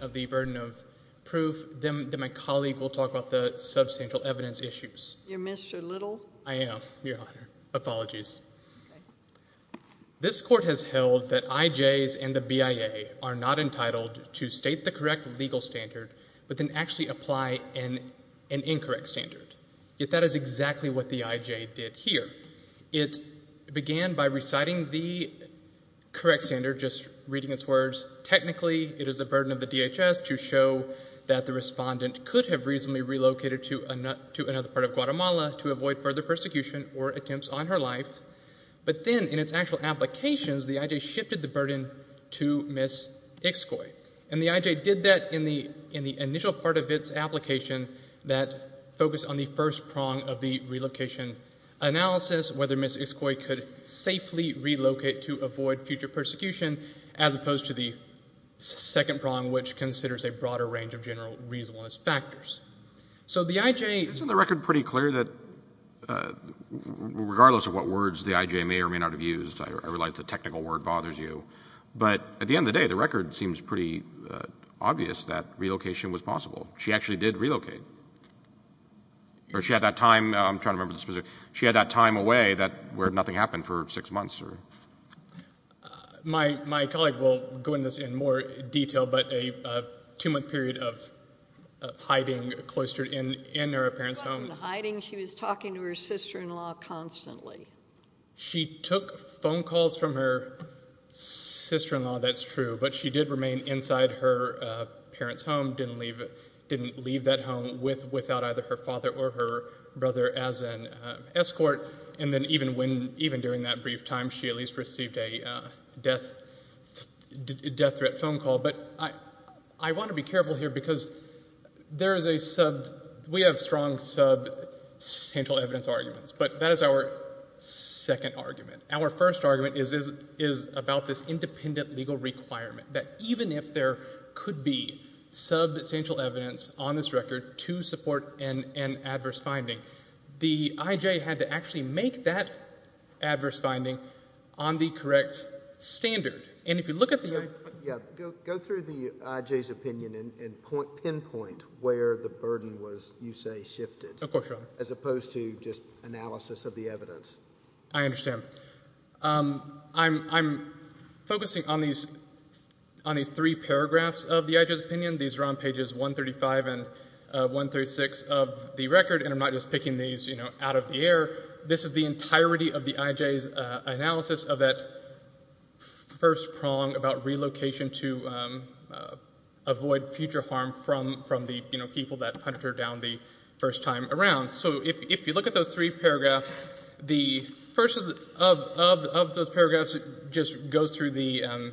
of the burden of proof, then my colleague will talk about the substantial evidence issues. This Court has held that IJs and the BIA are not entitled to state the correct legal standard, but then actually apply an incorrect standard. Yet that is exactly what the IJ did here. It began by reciting the correct standard, just reading its words, it is the burden of the DHS to show that the respondent could have reasonably relocated to another part of Guatemala to avoid further persecution or attempts on her life. But then in its actual applications, the IJ shifted the burden to Ms. Ixcoy. And the IJ did that in the initial part of its application that focused on the first prong of the relocation analysis, whether Ms. Ixcoy could safely relocate to avoid future persecution, as opposed to the second prong, which considers a broader range of general reasonableness factors. So the IJ — Isn't the record pretty clear that, regardless of what words the IJ may or may not have used, I realize the technical word bothers you, but at the end of the day, the record seems pretty obvious that relocation was possible. She actually did relocate. Or she had that time — I'm trying to remember the specific — she had that time away where nothing happened for six months or — My colleague will go into this in more detail, but a two-month period of hiding cloistered in her parents' home — It wasn't hiding. She was talking to her sister-in-law constantly. She took phone calls from her sister-in-law, that's true. But she did remain inside her parents' home, didn't leave that home without either her father or her brother as an escort. And then even during that brief time, she at least received a death-threat phone call. But I want to be careful here, because there is a — we have strong substantial evidence arguments, but that is our second argument. Our first argument is about this independent legal requirement that even if there could be substantial evidence on this record to support an adverse finding, the IJ had to actually make that adverse finding on the correct standard. And if you look at the — Yeah, go through the IJ's opinion and pinpoint where the burden was, you say, shifted. As opposed to just analysis of the evidence. I understand. I'm focusing on these three paragraphs of the IJ's opinion. These are on pages 135 and 136 of the record, and I'm not just picking these out of the air. This is the entirety of the IJ's analysis of that first prong about relocation to avoid future harm from the people that hunted her down the first time around. So if you look at those three paragraphs, the first of those paragraphs just goes through the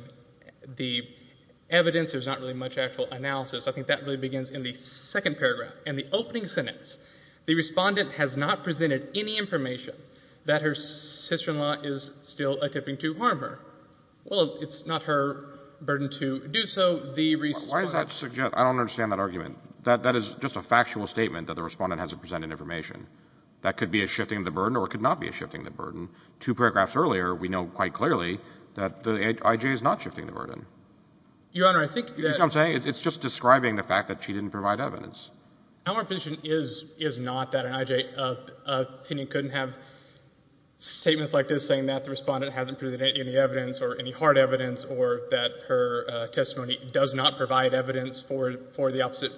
evidence. There's not really much actual analysis. I think that really begins in the second paragraph. In the opening sentence, the Respondent has not presented any information that her sister-in-law is still attempting to harm her. Well, it's not her burden to do so. The Respondent — Why is that — I don't understand that argument. That is just a factual statement that the Respondent hasn't presented information. That could be a shifting of the burden or it could not be a shifting of the burden. Two paragraphs earlier, we know quite clearly that the IJ is not shifting the burden. Your Honor, I think that — You see what I'm saying? It's just describing the fact that she didn't provide evidence. Our position is not that an IJ opinion couldn't have statements like this saying that the Respondent hasn't presented any evidence or any hard evidence or that her testimony does not provide evidence for the opposite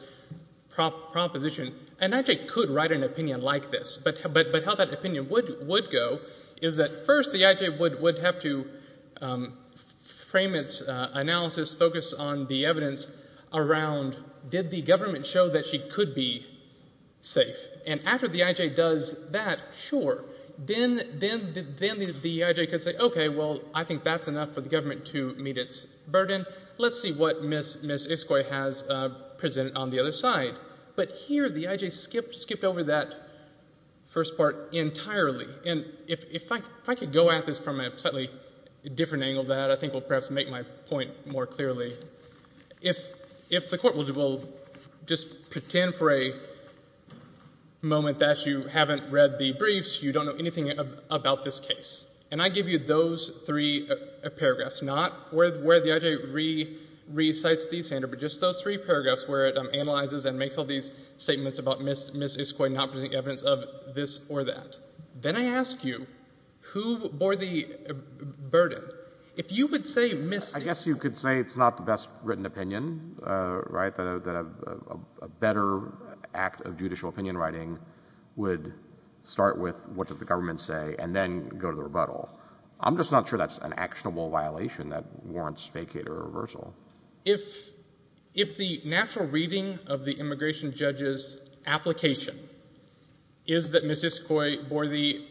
proposition. An IJ could write an opinion like this, but how that opinion would go is that, first, the IJ would have to provide — frame its analysis, focus on the evidence around, did the government show that she could be safe? And after the IJ does that, sure. Then the IJ could say, okay, well, I think that's enough for the government to meet its burden. Let's see what Ms. Iskoy has presented on the other side. But here, the IJ skipped over that first part entirely. And if I could go at this from a slightly different angle, that I think will perhaps make my point more clearly. If the Court will just pretend for a moment that you haven't read the briefs, you don't know anything about this case, and I give you those three paragraphs, not where the IJ re-cites the standard, but just those three paragraphs where it analyzes and makes sure that the IJ does not present evidence of this or that. Then I ask you, who bore the burden? If you would say, Ms. — I guess you could say it's not the best written opinion, right, that a better act of judicial opinion writing would start with what does the government say and then go to the rebuttal. I'm just not sure that's an actionable violation that warrants vacate or reversal. If the natural reading of the immigration judge's application is that Ms. Iskoy bore the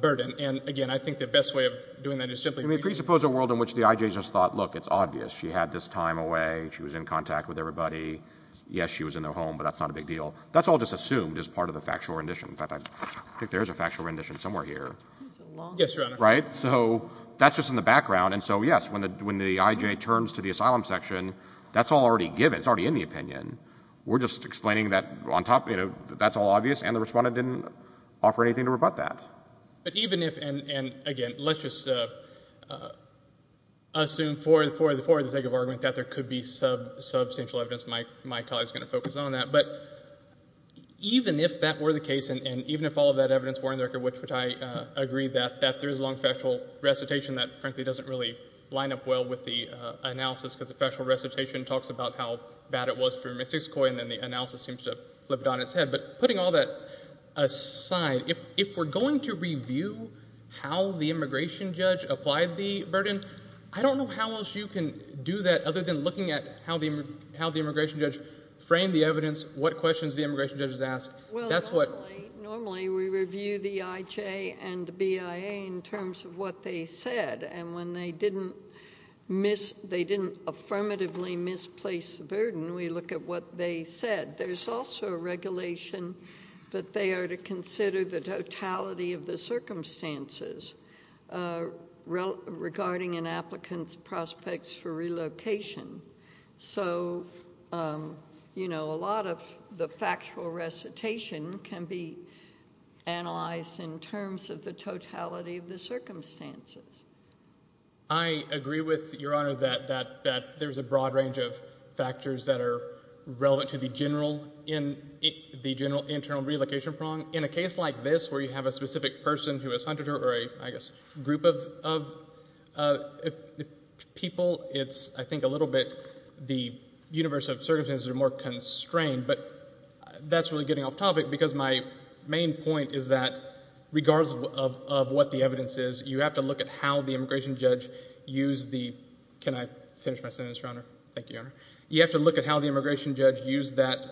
burden, and again, I think the best way of doing that is simply — Let me presuppose a world in which the IJ just thought, look, it's obvious. She had this time away. She was in contact with everybody. Yes, she was in their home, but that's not a big deal. That's all just assumed as part of the factual rendition. In fact, I think there is a factual rendition somewhere here. Yes, Your Honor. Right? So that's just in the background. And so, yes, when the IJ turns to the asylum section, that's all already given. It's already in the opinion. We're just explaining that on top — you know, that's all obvious, and the Respondent didn't offer anything to rebut that. But even if — and again, let's just assume for the sake of argument that there could be substantial evidence. My colleague is going to focus on that. But even if that were the case and even if all of that evidence were in the record, which I agree that there is a long factual recitation that, frankly, doesn't really line up well with the analysis, because the factual recitation talks about how bad it was for Ms. Hiscoy, and then the analysis seems to have flipped on its head. But putting all that aside, if we're going to review how the immigration judge applied the burden, I don't know how else you can do that other than looking at how the immigration judge framed the evidence, what questions the immigration judge has asked. That's what — we review the IJ and the BIA in terms of what they said. And when they didn't miss — they didn't affirmatively misplace the burden, we look at what they said. There's also a regulation that they are to consider the totality of the circumstances regarding an applicant's prospects for relocation. So, you know, a factual recitation can be analyzed in terms of the totality of the circumstances. I agree with Your Honor that there's a broad range of factors that are relevant to the general — the general internal relocation prong. In a case like this where you have a specific person who has hunted her or a, I guess, group of people, it's I think a little bit the universe of circumstances are more constrained. But that's really getting off topic because my main point is that regardless of what the evidence is, you have to look at how the immigration judge used the — can I finish my sentence, Your Honor? Thank you, Your Honor. You have to look at how the immigration judge used that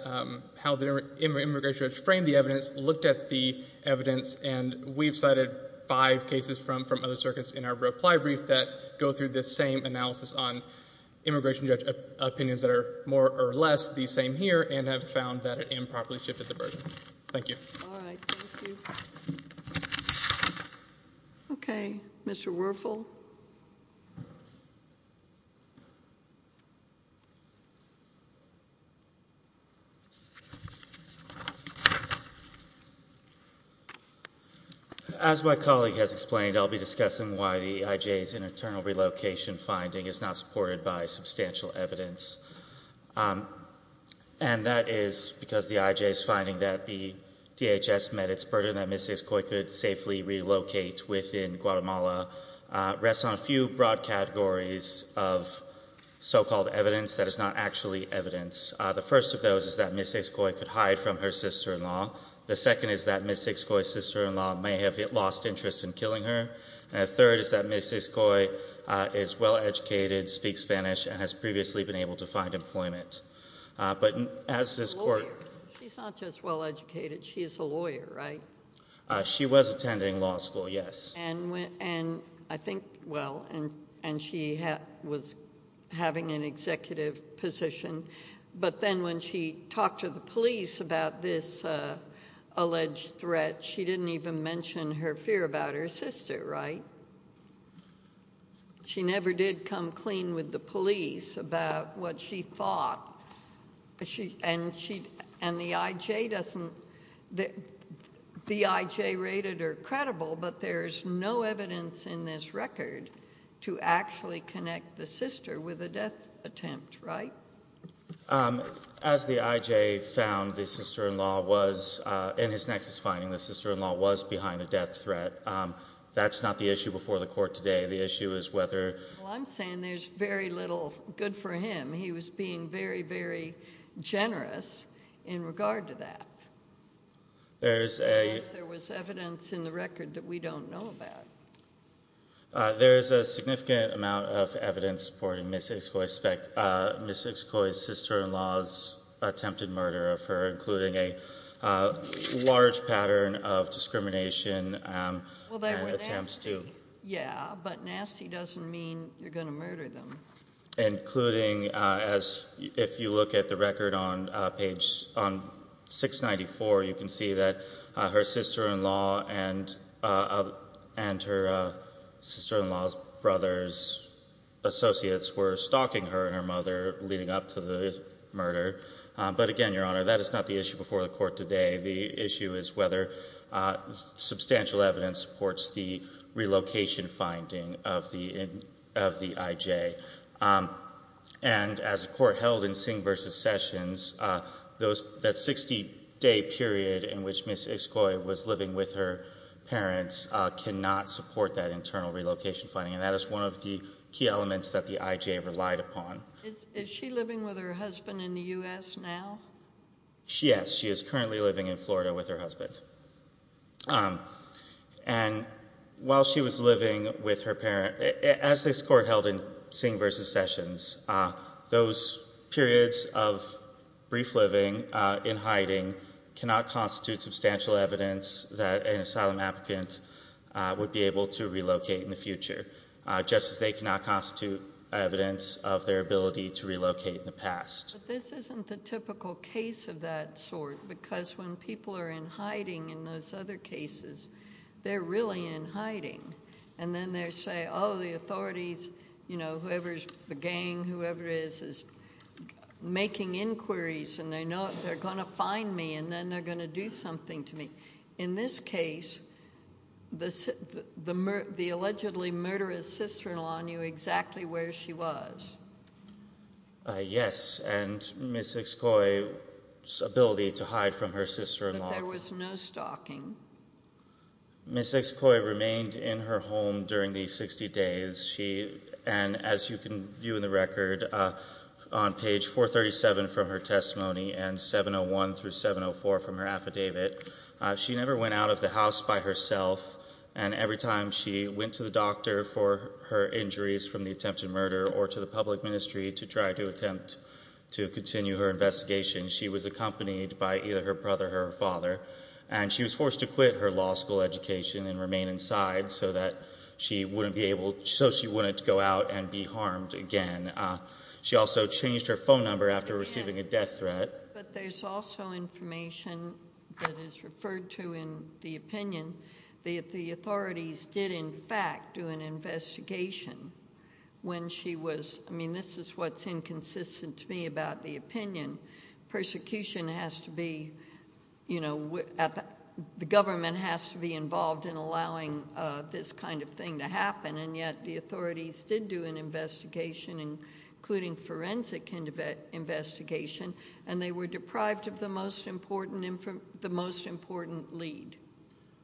— how the immigration judge framed the evidence, looked at the evidence, and we've cited five cases from other circuits in our reply brief that go through this same analysis on immigration judge opinions that are more or less the same here and have found that it improperly shifted the burden. Thank you. All right. Thank you. Okay. Mr. Werfel. As my colleague has explained, I'll be discussing why the IJ's internal relocation finding is not supported by substantial evidence. And that is because the IJ's finding that the DHS met its burden that Ms. Coy could safely relocate within Guatemala rests on a few broad categories of so-called evidence that is not actually evidence. The first of those is that Ms. Acecoy could hide from her sister-in-law. The second is that Ms. Acecoy's sister-in-law may have lost interest in killing her. And the third is that Ms. Acecoy is well-educated, speaks Spanish, and has previously been able to find employment. But as this Court — A lawyer. She's not just well-educated. She is a lawyer, right? She was attending law school, yes. And I think — well, and she was having an executive position. But then when she talked to the police about this alleged threat, she didn't even mention her fear about her sister, right? She never did come clean with the police about what she was going to do. As the IJ found the sister-in-law was — in his next finding, the sister-in-law was behind a death threat. That's not the issue before the Court today. The issue is whether — Well, I'm saying there's very little good for him. He was being very, very generous in regard to that. There's a — There's a significant amount of evidence supporting Ms. Acecoy's sister-in-law's attempted murder of her, including a large pattern of discrimination and attempts to — Well, they were nasty, yeah. But nasty doesn't mean you're going to murder them. Including, as — if you look at the record on page — on 694, you can see that her sister-in-law and her sister-in-law's brother's associates were stalking her and her mother leading up to the murder. But again, Your Honor, that is not the issue before the Court today. The issue is whether substantial evidence supports the relocation finding of the IJ. And as the Court held in Singh v. Sessions, that 60-day period in which Ms. Acecoy was living with her parents cannot support that internal relocation finding. And that is one of the key elements that the IJ relied upon. Is she living with her husband in the U.S. now? Yes. She is currently living in Florida with her husband. And while she was living with her parent — as this Court held in Singh v. Sessions, those periods of brief living in hiding cannot constitute substantial evidence that an asylum applicant would be able to relocate in the future, just as they cannot constitute evidence of their ability to relocate in the past. But this isn't the typical case of that sort, because when people are in hiding in those other cases, they're really in hiding. And then they say, oh, the hiding, whoever it is, is making inquiries, and they know they're going to find me, and then they're going to do something to me. In this case, the allegedly murderous sister-in-law knew exactly where she was. Yes, and Ms. Acecoy's ability to hide from her sister-in-law. But there was no stalking. Ms. Acecoy remained in her home during these 60 days, and as you can view in the record, on page 437 from her testimony and 701 through 704 from her affidavit, she never went out of the house by herself. And every time she went to the doctor for her injuries from the attempted murder or to the public ministry to try to attempt to continue her investigation, she was accompanied by either her brother or her father. And she was forced to quit her law school education and remain inside so that she wouldn't be able, so she wouldn't go out and be harmed again. She also changed her phone number after receiving a death threat. But there's also information that is referred to in the opinion that the authorities did, in fact, do an investigation when she was, I mean, this is what's inconsistent to me about the opinion. Persecution has to be, you know, the government has to be involved in allowing this kind of thing to happen, and yet the authorities did do an investigation, including forensic investigation, and they were deprived of the most important lead.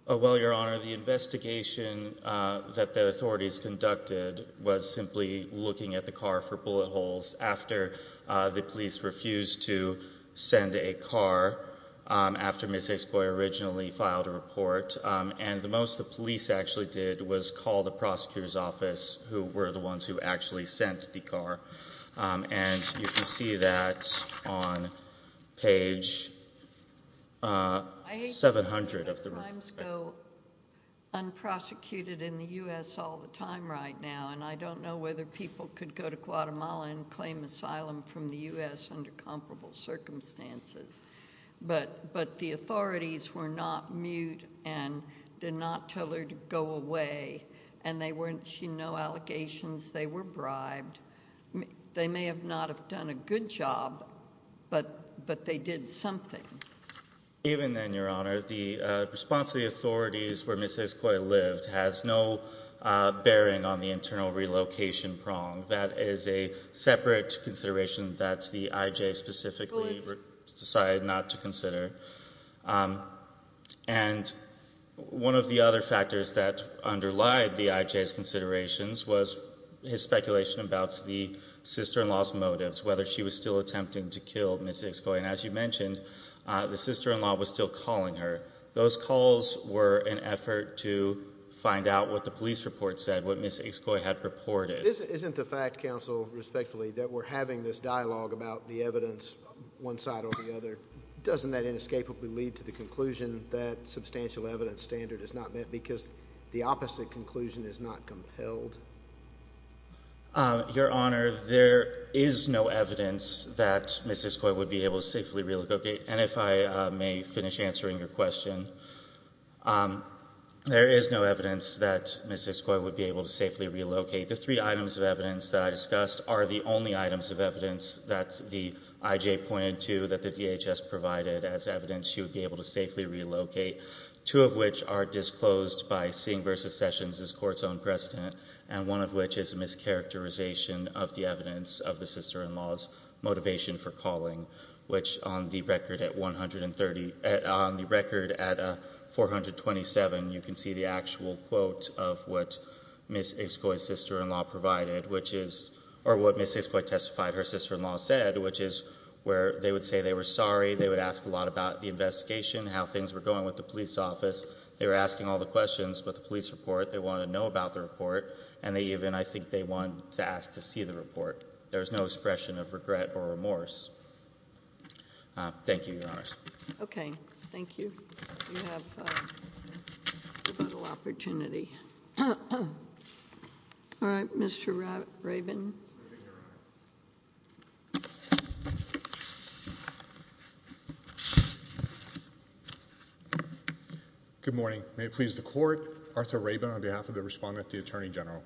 Well, Your Honor, the investigation that the authorities conducted was simply looking at the car for bullet holes after the police refused to send a car after Ms. Exployer originally filed a report. And the most the police actually did was call the prosecutor's office, who were the ones who actually sent the car. And you can see that on page 700 of the report. I hate to see crimes go unprosecuted in the U.S. all the time right now, and I don't know whether people could go to Guatemala and claim asylum from the U.S. under comparable circumstances. But the authorities were not mute and did not tell her to go away, and there were no allegations. They were bribed. They may have not have done a good job, but they did something. Even then, Your Honor, the response of the authorities where Ms. Exployer lived has no relocation prong. That is a separate consideration that the IJ specifically decided not to consider. And one of the other factors that underlied the IJ's considerations was his speculation about the sister-in-law's motives, whether she was still attempting to kill Ms. Exployer. And as you mentioned, the sister-in-law was still calling her. Those calls were an effort to find out what the police report said, what Ms. Exployer had reported. Isn't the fact, counsel, respectfully, that we're having this dialogue about the evidence one side or the other, doesn't that inescapably lead to the conclusion that substantial evidence standard is not met because the opposite conclusion is not compelled? Your Honor, there is no evidence that Ms. Exployer would be able to safely relocate. And if I may finish answering your question, there is no evidence that Ms. Exployer would be able to safely relocate. The three items of evidence that I discussed are the only items of evidence that the IJ pointed to that the DHS provided as evidence she would be able to safely relocate, two of which are disclosed by seeing versus sessions as court's own precedent, and one of which is a mischaracterization of the evidence of the sister-in-law's motivation for calling, which on the record at 427, you can see the actual quote of what Ms. Exployer's sister-in-law provided, or what Ms. Exployer testified her sister-in-law said, which is where they would say they were sorry, they would ask a lot about the investigation, how things were going with the police office, they were asking all the questions about the police report, they wanted to know about the report, and they even, I think, they wanted to ask to see the report. There is no expression of regret or remorse. Thank you, Your Honors. Okay. Thank you. You have a little opportunity. All right. Mr. Rabin. Good morning. May it please the Court, Arthur Rabin on behalf of the Respondent at the Attorney General.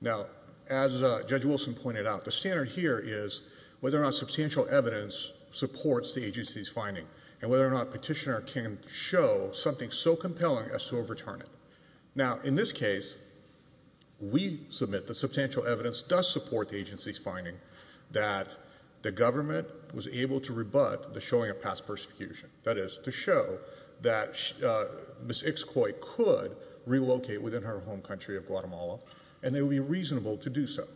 Now, as Judge Wilson pointed out, the standard here is whether or not substantial evidence supports the agency's finding, and whether or not a petitioner can show something so compelling as to overturn it. Now, in this case, we submit that substantial evidence does support the agency's finding that the government was able to rebut the showing of past persecution, that is, to show that Ms. Exployer could relocate within her home country of Guatemala, and it would be reasonable to do so.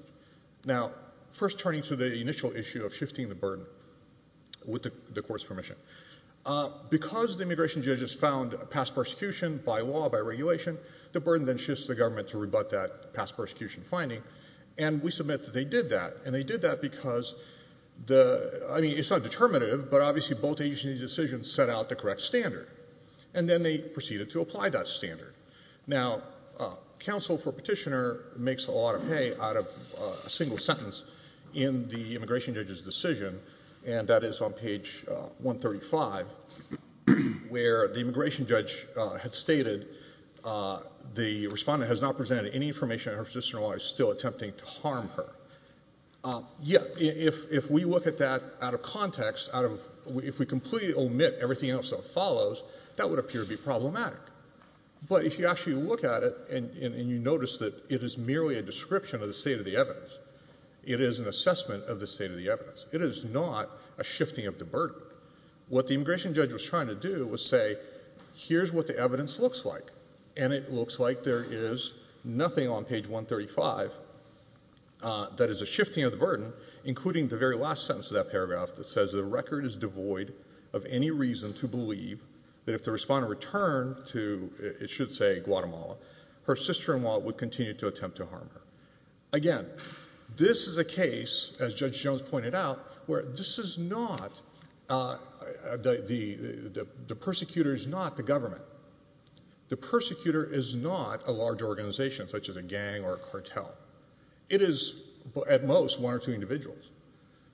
Now, first turning to the initial issue of shifting the burden, with the Court's permission, because the immigration judges found past persecution by law, by regulation, the burden then shifts to the government to rebut that past persecution finding, and we submit that they did that, and they did that because the, I mean, it's not determinative, but obviously both agencies' decisions set out the correct standard, and then they proceeded to apply that standard. Now, counsel for petitioner makes a lot of pay out of a single sentence in the immigration judge's decision, and that is on page 135, where the immigration judge had stated the Respondent has not presented any information that her petitioner is still attempting to harm her. Yet, if we look at that out of context, out of, if we completely omit everything else that follows, that would appear to be problematic. But if you actually look at it, and you notice that it is merely a description of the state of the evidence, it is an assessment of the state of the evidence. It is not a shifting of the burden. What the immigration judge was trying to do was say, here's what the evidence looks like, and it looks like there is nothing on page 135 that is a shifting of the burden, including the very last sentence of that paragraph that says the record is devoid of any reason to believe that if the Respondent returned to, it should say, Guatemala, her sister-in-law would continue to attempt to harm her. Again, this is a case, as Judge Jones pointed out, where this is not, the persecutor is not the government. The persecutor is not a large organization, such as a gang or a group of individuals.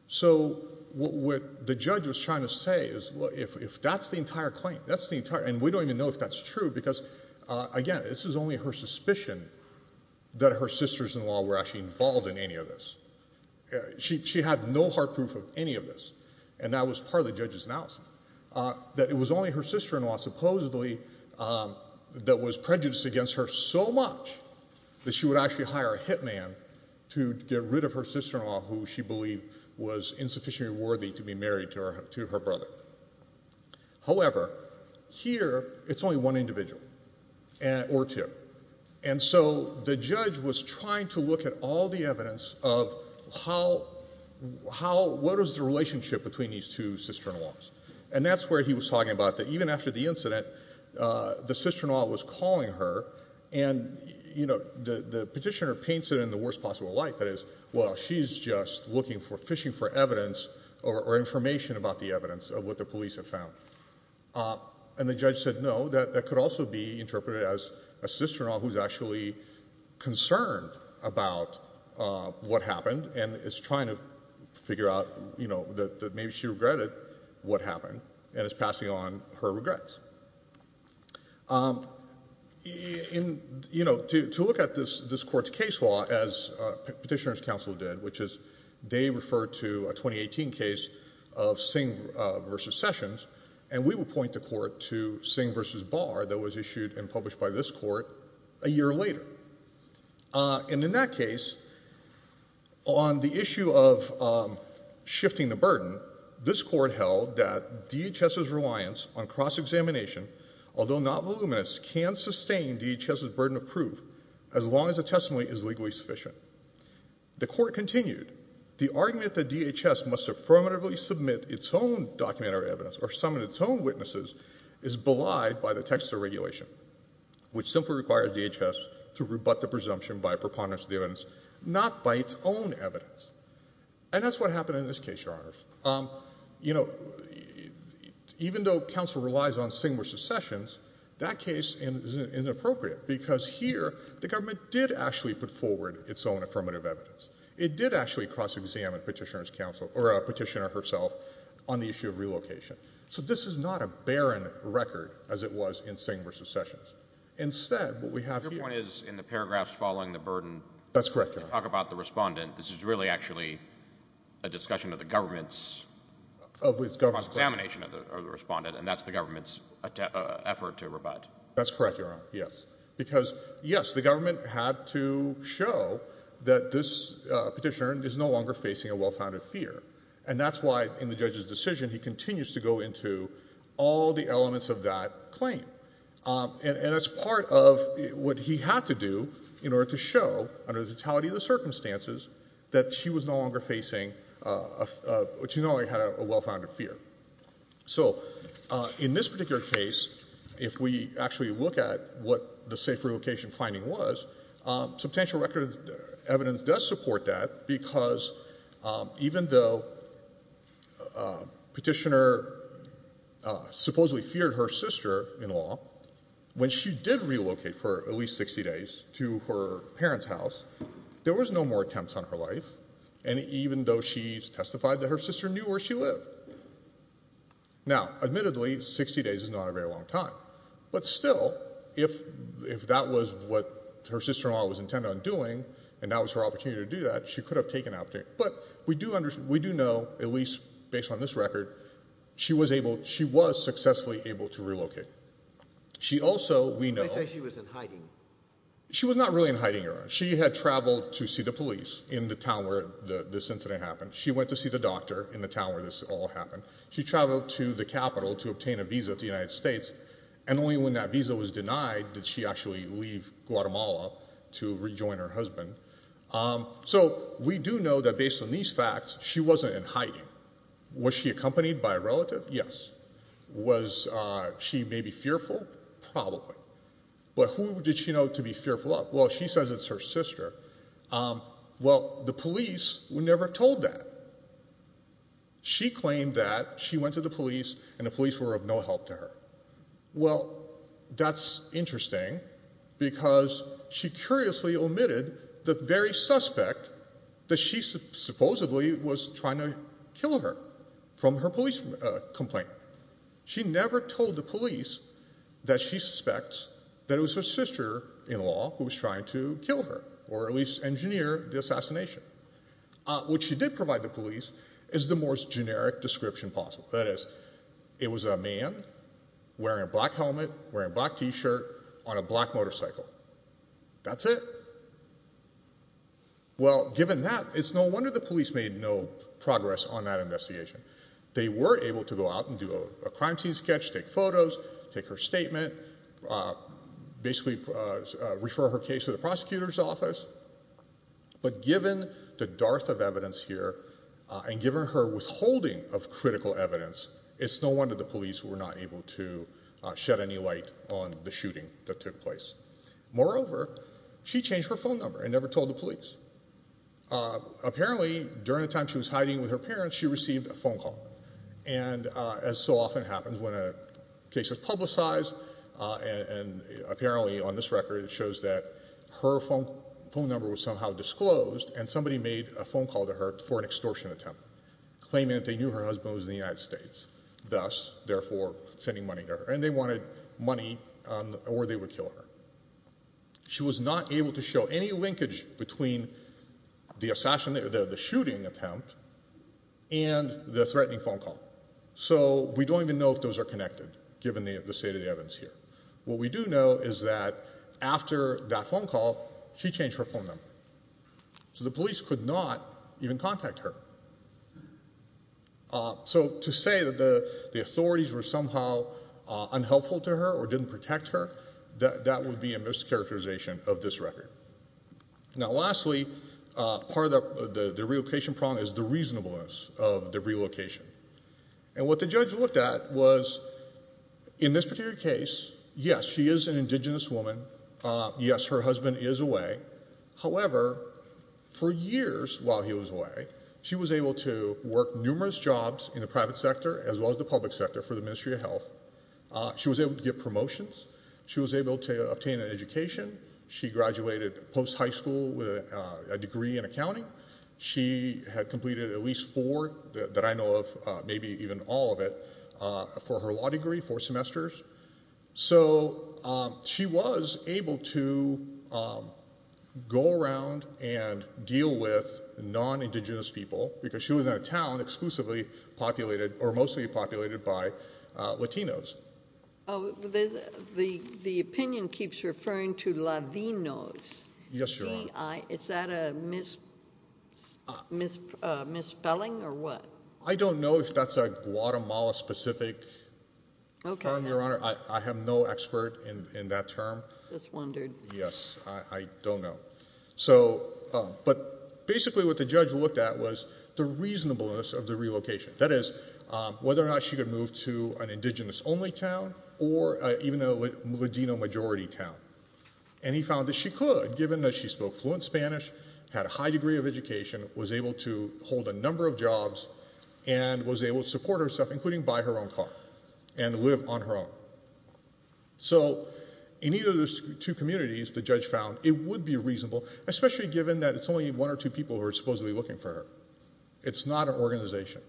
So what the judge was trying to say is, if that's the entire claim, that's the entire, and we don't even know if that's true, because, again, this is only her suspicion that her sister-in-law were actually involved in any of this. She had no hard proof of any of this, and that was part of the judge's analysis, that it was only her sister-in-law, supposedly, that was prejudiced against her so much that she would actually hire a hitman to get rid of her sister-in-law, who she believed was insufficiently worthy to be married to her brother. However, here, it's only one individual, or two. And so the judge was trying to look at all the evidence of how, what is the relationship between these two sister-in-laws. And that's where he was talking about that even after the incident, the sister-in-law was calling her, and the petitioner paints it in the worst possible light, that is, well, she's just looking for, fishing for evidence or information about the evidence of what the police have found. And the judge said, no, that could also be interpreted as a sister-in-law who's actually concerned about what happened and is trying to figure out that maybe she regretted what happened and is passing on her regrets. In, you know, to look at this Court's case law as Petitioners' Counsel did, which is they referred to a 2018 case of Singh v. Sessions, and we would point the Court to Singh v. Barr that was issued and published by this Court a year later. And in that case, on the issue of shifting the burden, this Court held that DHS's reliance on cross-examination, although not voluminous, can sustain DHS's burden of proof as long as the testimony is legally sufficient. The Court continued, the argument that DHS must affirmatively submit its own documentary evidence or summon its own witnesses is belied by the Texas regulation, which simply requires DHS to rebut the presumption by a preponderance of the evidence, not by its own evidence. And that's what happened in this case, Your Honors. You know, even though counsel relies on Singh v. Sessions, that case is inappropriate because here the government did actually put forward its own affirmative evidence. It did actually cross-examine Petitioners' Counsel, or Petitioner herself, on the issue of relocation. So this is not a barren record as it was in Singh v. Sessions. Instead, what we have here— Your point is, in the paragraphs following the burden— That's correct, Your Honor. When you talk about the Respondent, this is really actually a discussion of the government's cross-examination of the Respondent, and that's the government's effort to rebut. That's correct, Your Honor, yes. Because, yes, the government had to show that this Petitioner is no longer facing a well-founded fear. And that's why, in the judge's decision, he continues to go into all the elements of that claim. And that's part of what he had to do in order to show, under the totality of the circumstances, that she was no longer facing a — she no longer had a well-founded fear. So in this particular case, if we actually look at what the safe relocation finding was, substantial record evidence does support that, because even though Petitioner supposedly feared her sister-in-law, when she did relocate for at least 60 days to her parents' house, there was no more attempts on her life, and even though she testified that her sister knew where she lived. Now, admittedly, 60 days is not a very long time. But still, if that was what her sister-in-law was intended on doing, and that was her opportunity to do that, she could have taken that opportunity. But we do know, at least based on this record, she was able — she was successfully able to relocate. She also, we know — They say she was in hiding. She was not really in hiding, Your Honor. She had traveled to see the police in the town where this incident happened. She went to see the doctor in the town where this all happened. She traveled to the Capitol to obtain a visa to the United States, and only when that visa was denied did she actually leave Guatemala to rejoin her husband. So we do know that, based on these facts, she wasn't in hiding. Was she accompanied by a relative? Yes. Was she maybe fearful? Probably. But who did she know to be fearful of? Well, she says it's her sister. Well, the police were never told that. She claimed that she went to the police, and the police were of no help to her. Well, that's interesting, because she curiously omitted the very suspect that she supposedly was trying to kill her from her police complaint. She never told the police that she suspects that it was her sister-in-law who was trying to kill her, or at least engineer the assassination. What she did provide the police is the most generic description possible. That is, it was a man wearing a black helmet, wearing a black T-shirt, on a black motorcycle. That's it. Well, given that, it's no wonder the police made no progress on that investigation. They were able to go out and do a crime scene sketch, take photos, take her statement, basically refer her case to the prosecutor's office. But given the dearth of evidence here, and given her withholding of critical evidence, it's no wonder the police were not able to shed any light on the shooting that took place. Moreover, she changed her phone number and never told the police. Apparently, during the time she was hiding with her parents, she received a phone call. And as so often happens when a case is publicized, and apparently on this record it shows that her phone number was somehow disclosed, and somebody made a phone call to her for an extortion attempt, claiming that they knew her husband was in the United States, thus, therefore, sending money to her. And they wanted money or they would kill her. She was not able to show any linkage between the shooting attempt and the threatening phone call. So we don't even know if those are connected, given the state of the evidence here. What we do know is that after that phone call, she changed her phone number. So the police could not even contact her. So to say that the authorities were somehow unhelpful to her or didn't protect her, that would be a mischaracterization of this record. Now, lastly, part of the relocation problem is the reasonableness of the relocation. And what the judge looked at was, in this particular case, yes, she is an indigenous woman. Yes, her husband is away. However, for years while he was away, she was able to work numerous jobs in the private sector as well as the public sector for the Ministry of Health. She was able to get promotions. She was able to obtain an education. She graduated post-high school with a degree in accounting. She had completed at least four that I know of, maybe even all of it, for her law degree, four semesters. So she was able to go around and deal with non-indigenous people because she was in a town exclusively populated or mostly populated by Latinos. The opinion keeps referring to Ladinos. Yes, Your Honor. Is that a misspelling or what? I don't know if that's a Guatemala-specific term, Your Honor. I have no expert in that term. Just wondered. Yes, I don't know. But basically what the judge looked at was the reasonableness of the relocation, that is, whether or not she could move to an indigenous-only town or even a Ladino-majority town. And he found that she could, given that she spoke fluent Spanish, had a high degree of education, was able to hold a number of jobs and was able to support herself, including buy her own car and live on her own. So in either of those two communities, the judge found it would be reasonable, especially given that it's only one or two people who are supposedly looking for her. It's not an organization.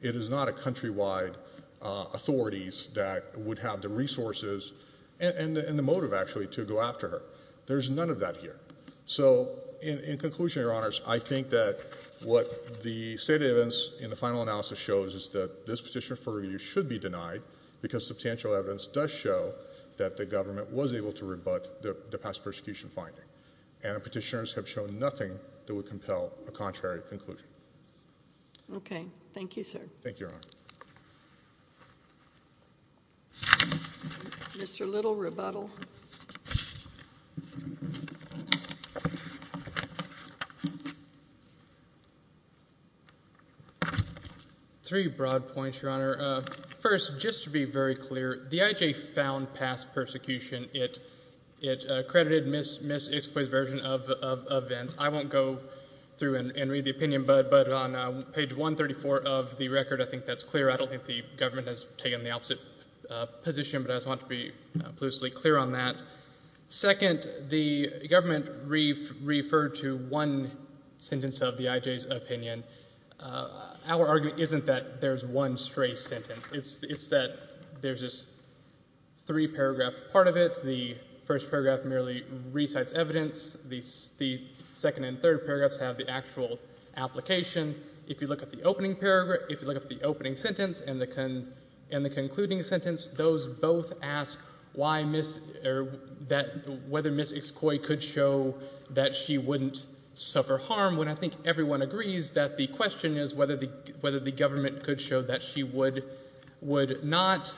It is not a countrywide authorities that would have the resources and the motive, actually, to go after her. There's none of that here. So in conclusion, Your Honors, I think that what the stated evidence in the final analysis shows is that this petition for review should be denied because substantial evidence does show that the government was able to rebut the past persecution finding. And the petitioners have shown nothing that would compel a contrary conclusion. Okay. Thank you, sir. Thank you, Your Honor. Mr. Little, rebuttal. Three broad points, Your Honor. First, just to be very clear, the IJ found past persecution. It accredited Ms. Ispoy's version of events. I won't go through and read the opinion, but on page 134 of the record, I think that's clear. I don't think the government has taken the opposite position, but I just want to be loosely clear on that. Second, the government referred to one sentence of the IJ's opinion. Our argument isn't that there's one stray sentence. It's that there's this three-paragraph part of it. The first paragraph merely recites evidence. The second and third paragraphs have the actual application. If you look at the opening paragraph, if you look at the opening sentence and the concluding sentence, those both ask whether Ms. Ispoy could show that she wouldn't suffer harm, when I think everyone agrees that the question is whether the government could show that she would not.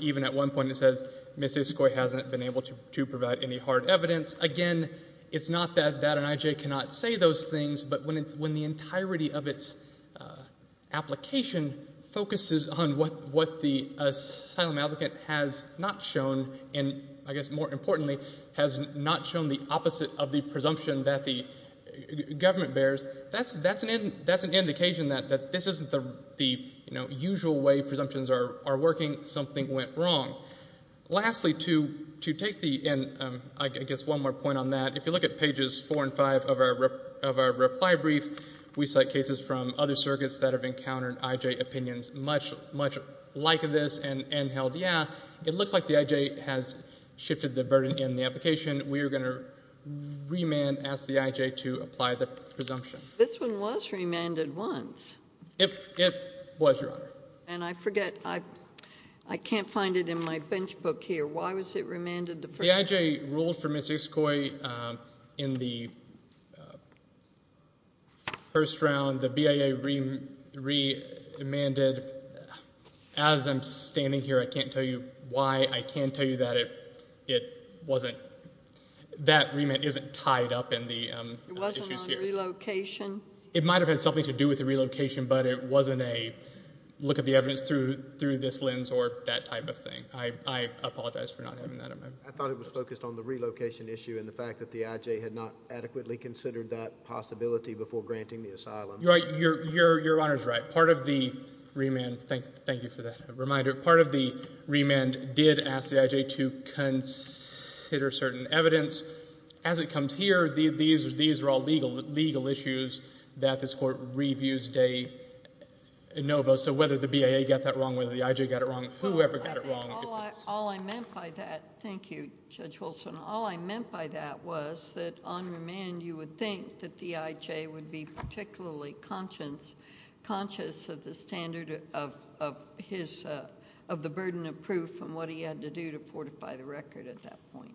Even at one point it says Ms. Ispoy hasn't been able to provide any hard evidence. Again, it's not that an IJ cannot say those things, but when the entirety of its application focuses on what the asylum applicant has not shown, and I guess more importantly has not shown the opposite of the presumption that the government bears, that's an indication that this isn't the usual way presumptions are working, something went wrong. Lastly, to take the end, I guess one more point on that, if you look at pages 4 and 5 of our reply brief, we cite cases from other circuits that have encountered IJ opinions much like this and held, yeah, it looks like the IJ has shifted the burden in the application. We are going to remand, ask the IJ to apply the presumption. This one was remanded once. It was, Your Honor. And I forget, I can't find it in my bench book here. Why was it remanded the first time? The IJ ruled for Ms. Ispoy in the first round. The BIA remanded. As I'm standing here, I can't tell you why. I can tell you that it wasn't, that remand isn't tied up in the issues here. It wasn't on relocation? It might have had something to do with the relocation, but it wasn't a look at the evidence through this lens or that type of thing. I apologize for not having that in my book. I thought it was focused on the relocation issue and the fact that the IJ had not adequately considered that possibility before granting the asylum. Your Honor is right. Part of the remand, thank you for that reminder, part of the remand did ask the IJ to consider certain evidence. As it comes here, these are all legal issues that this Court reviews de novo, so whether the BIA got that wrong, whether the IJ got it wrong, whoever got it wrong. All I meant by that, thank you, Judge Wilson, all I meant by that was that on remand you would think that the IJ would be particularly conscious of the standard of the burden of proof and what he had to do to fortify the record at that point.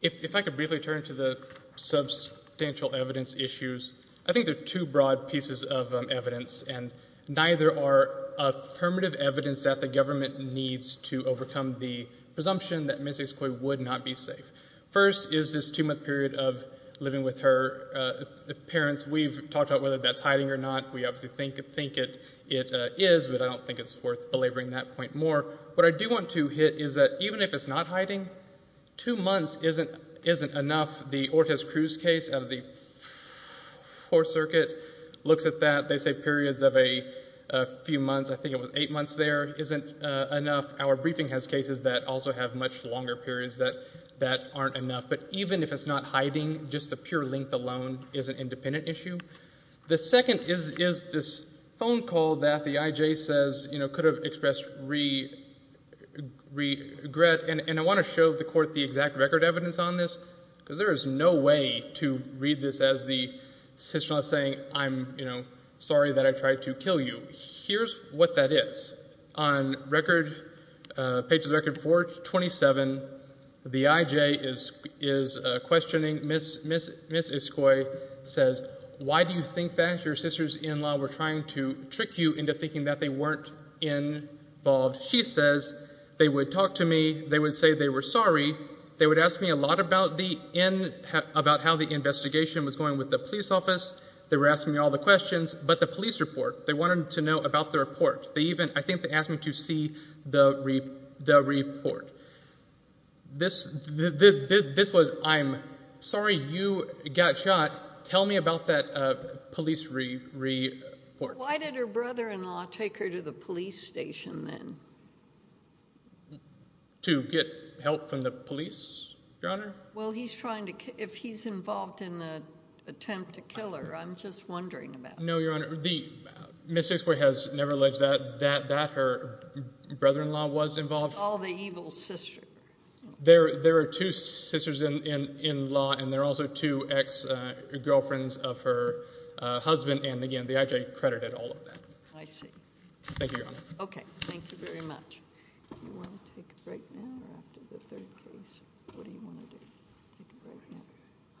If I could briefly turn to the substantial evidence issues. I think there are two broad pieces of evidence, and neither are affirmative evidence that the government needs to overcome the presumption that Ms. Esquoy would not be safe. First is this two-month period of living with her parents. We've talked about whether that's hiding or not. We obviously think it is, but I don't think it's worth belaboring that point more. What I do want to hit is that even if it's not hiding, two months isn't enough. The Ortiz-Cruz case out of the Fourth Circuit looks at that. They say periods of a few months, I think it was eight months there, isn't enough. Our briefing has cases that also have much longer periods that aren't enough. But even if it's not hiding, just the pure length alone is an independent issue. The second is this phone call that the IJ says, you know, could have expressed regret. And I want to show the Court the exact record evidence on this, because there is no way to read this as the citizen saying I'm, you know, sorry that I tried to kill you. Here's what that is. On record, page of the record 427, the IJ is questioning Ms. Iscoy, says, why do you think that your sister's in-law were trying to trick you into thinking that they weren't involved? She says, they would talk to me. They would say they were sorry. They would ask me a lot about how the investigation was going with the police office. They were asking me all the questions, but the police report, they wanted to know about the report. They even, I think they asked me to see the report. This was, I'm sorry you got shot. Tell me about that police report. Why did her brother-in-law take her to the police station then? To get help from the police, Your Honor? Well, he's trying to, if he's involved in the attempt to kill her, I'm just wondering about that. No, Your Honor. Ms. Iscoy has never alleged that her brother-in-law was involved. It's all the evil sister. There are two sisters-in-law, and there are also two ex-girlfriends of her husband, and again, the IJ credited all of that. I see. Thank you, Your Honor. Okay, thank you very much. Do you want to take a break now or after the third case? What do you want to do? Take a break now.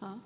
Huh?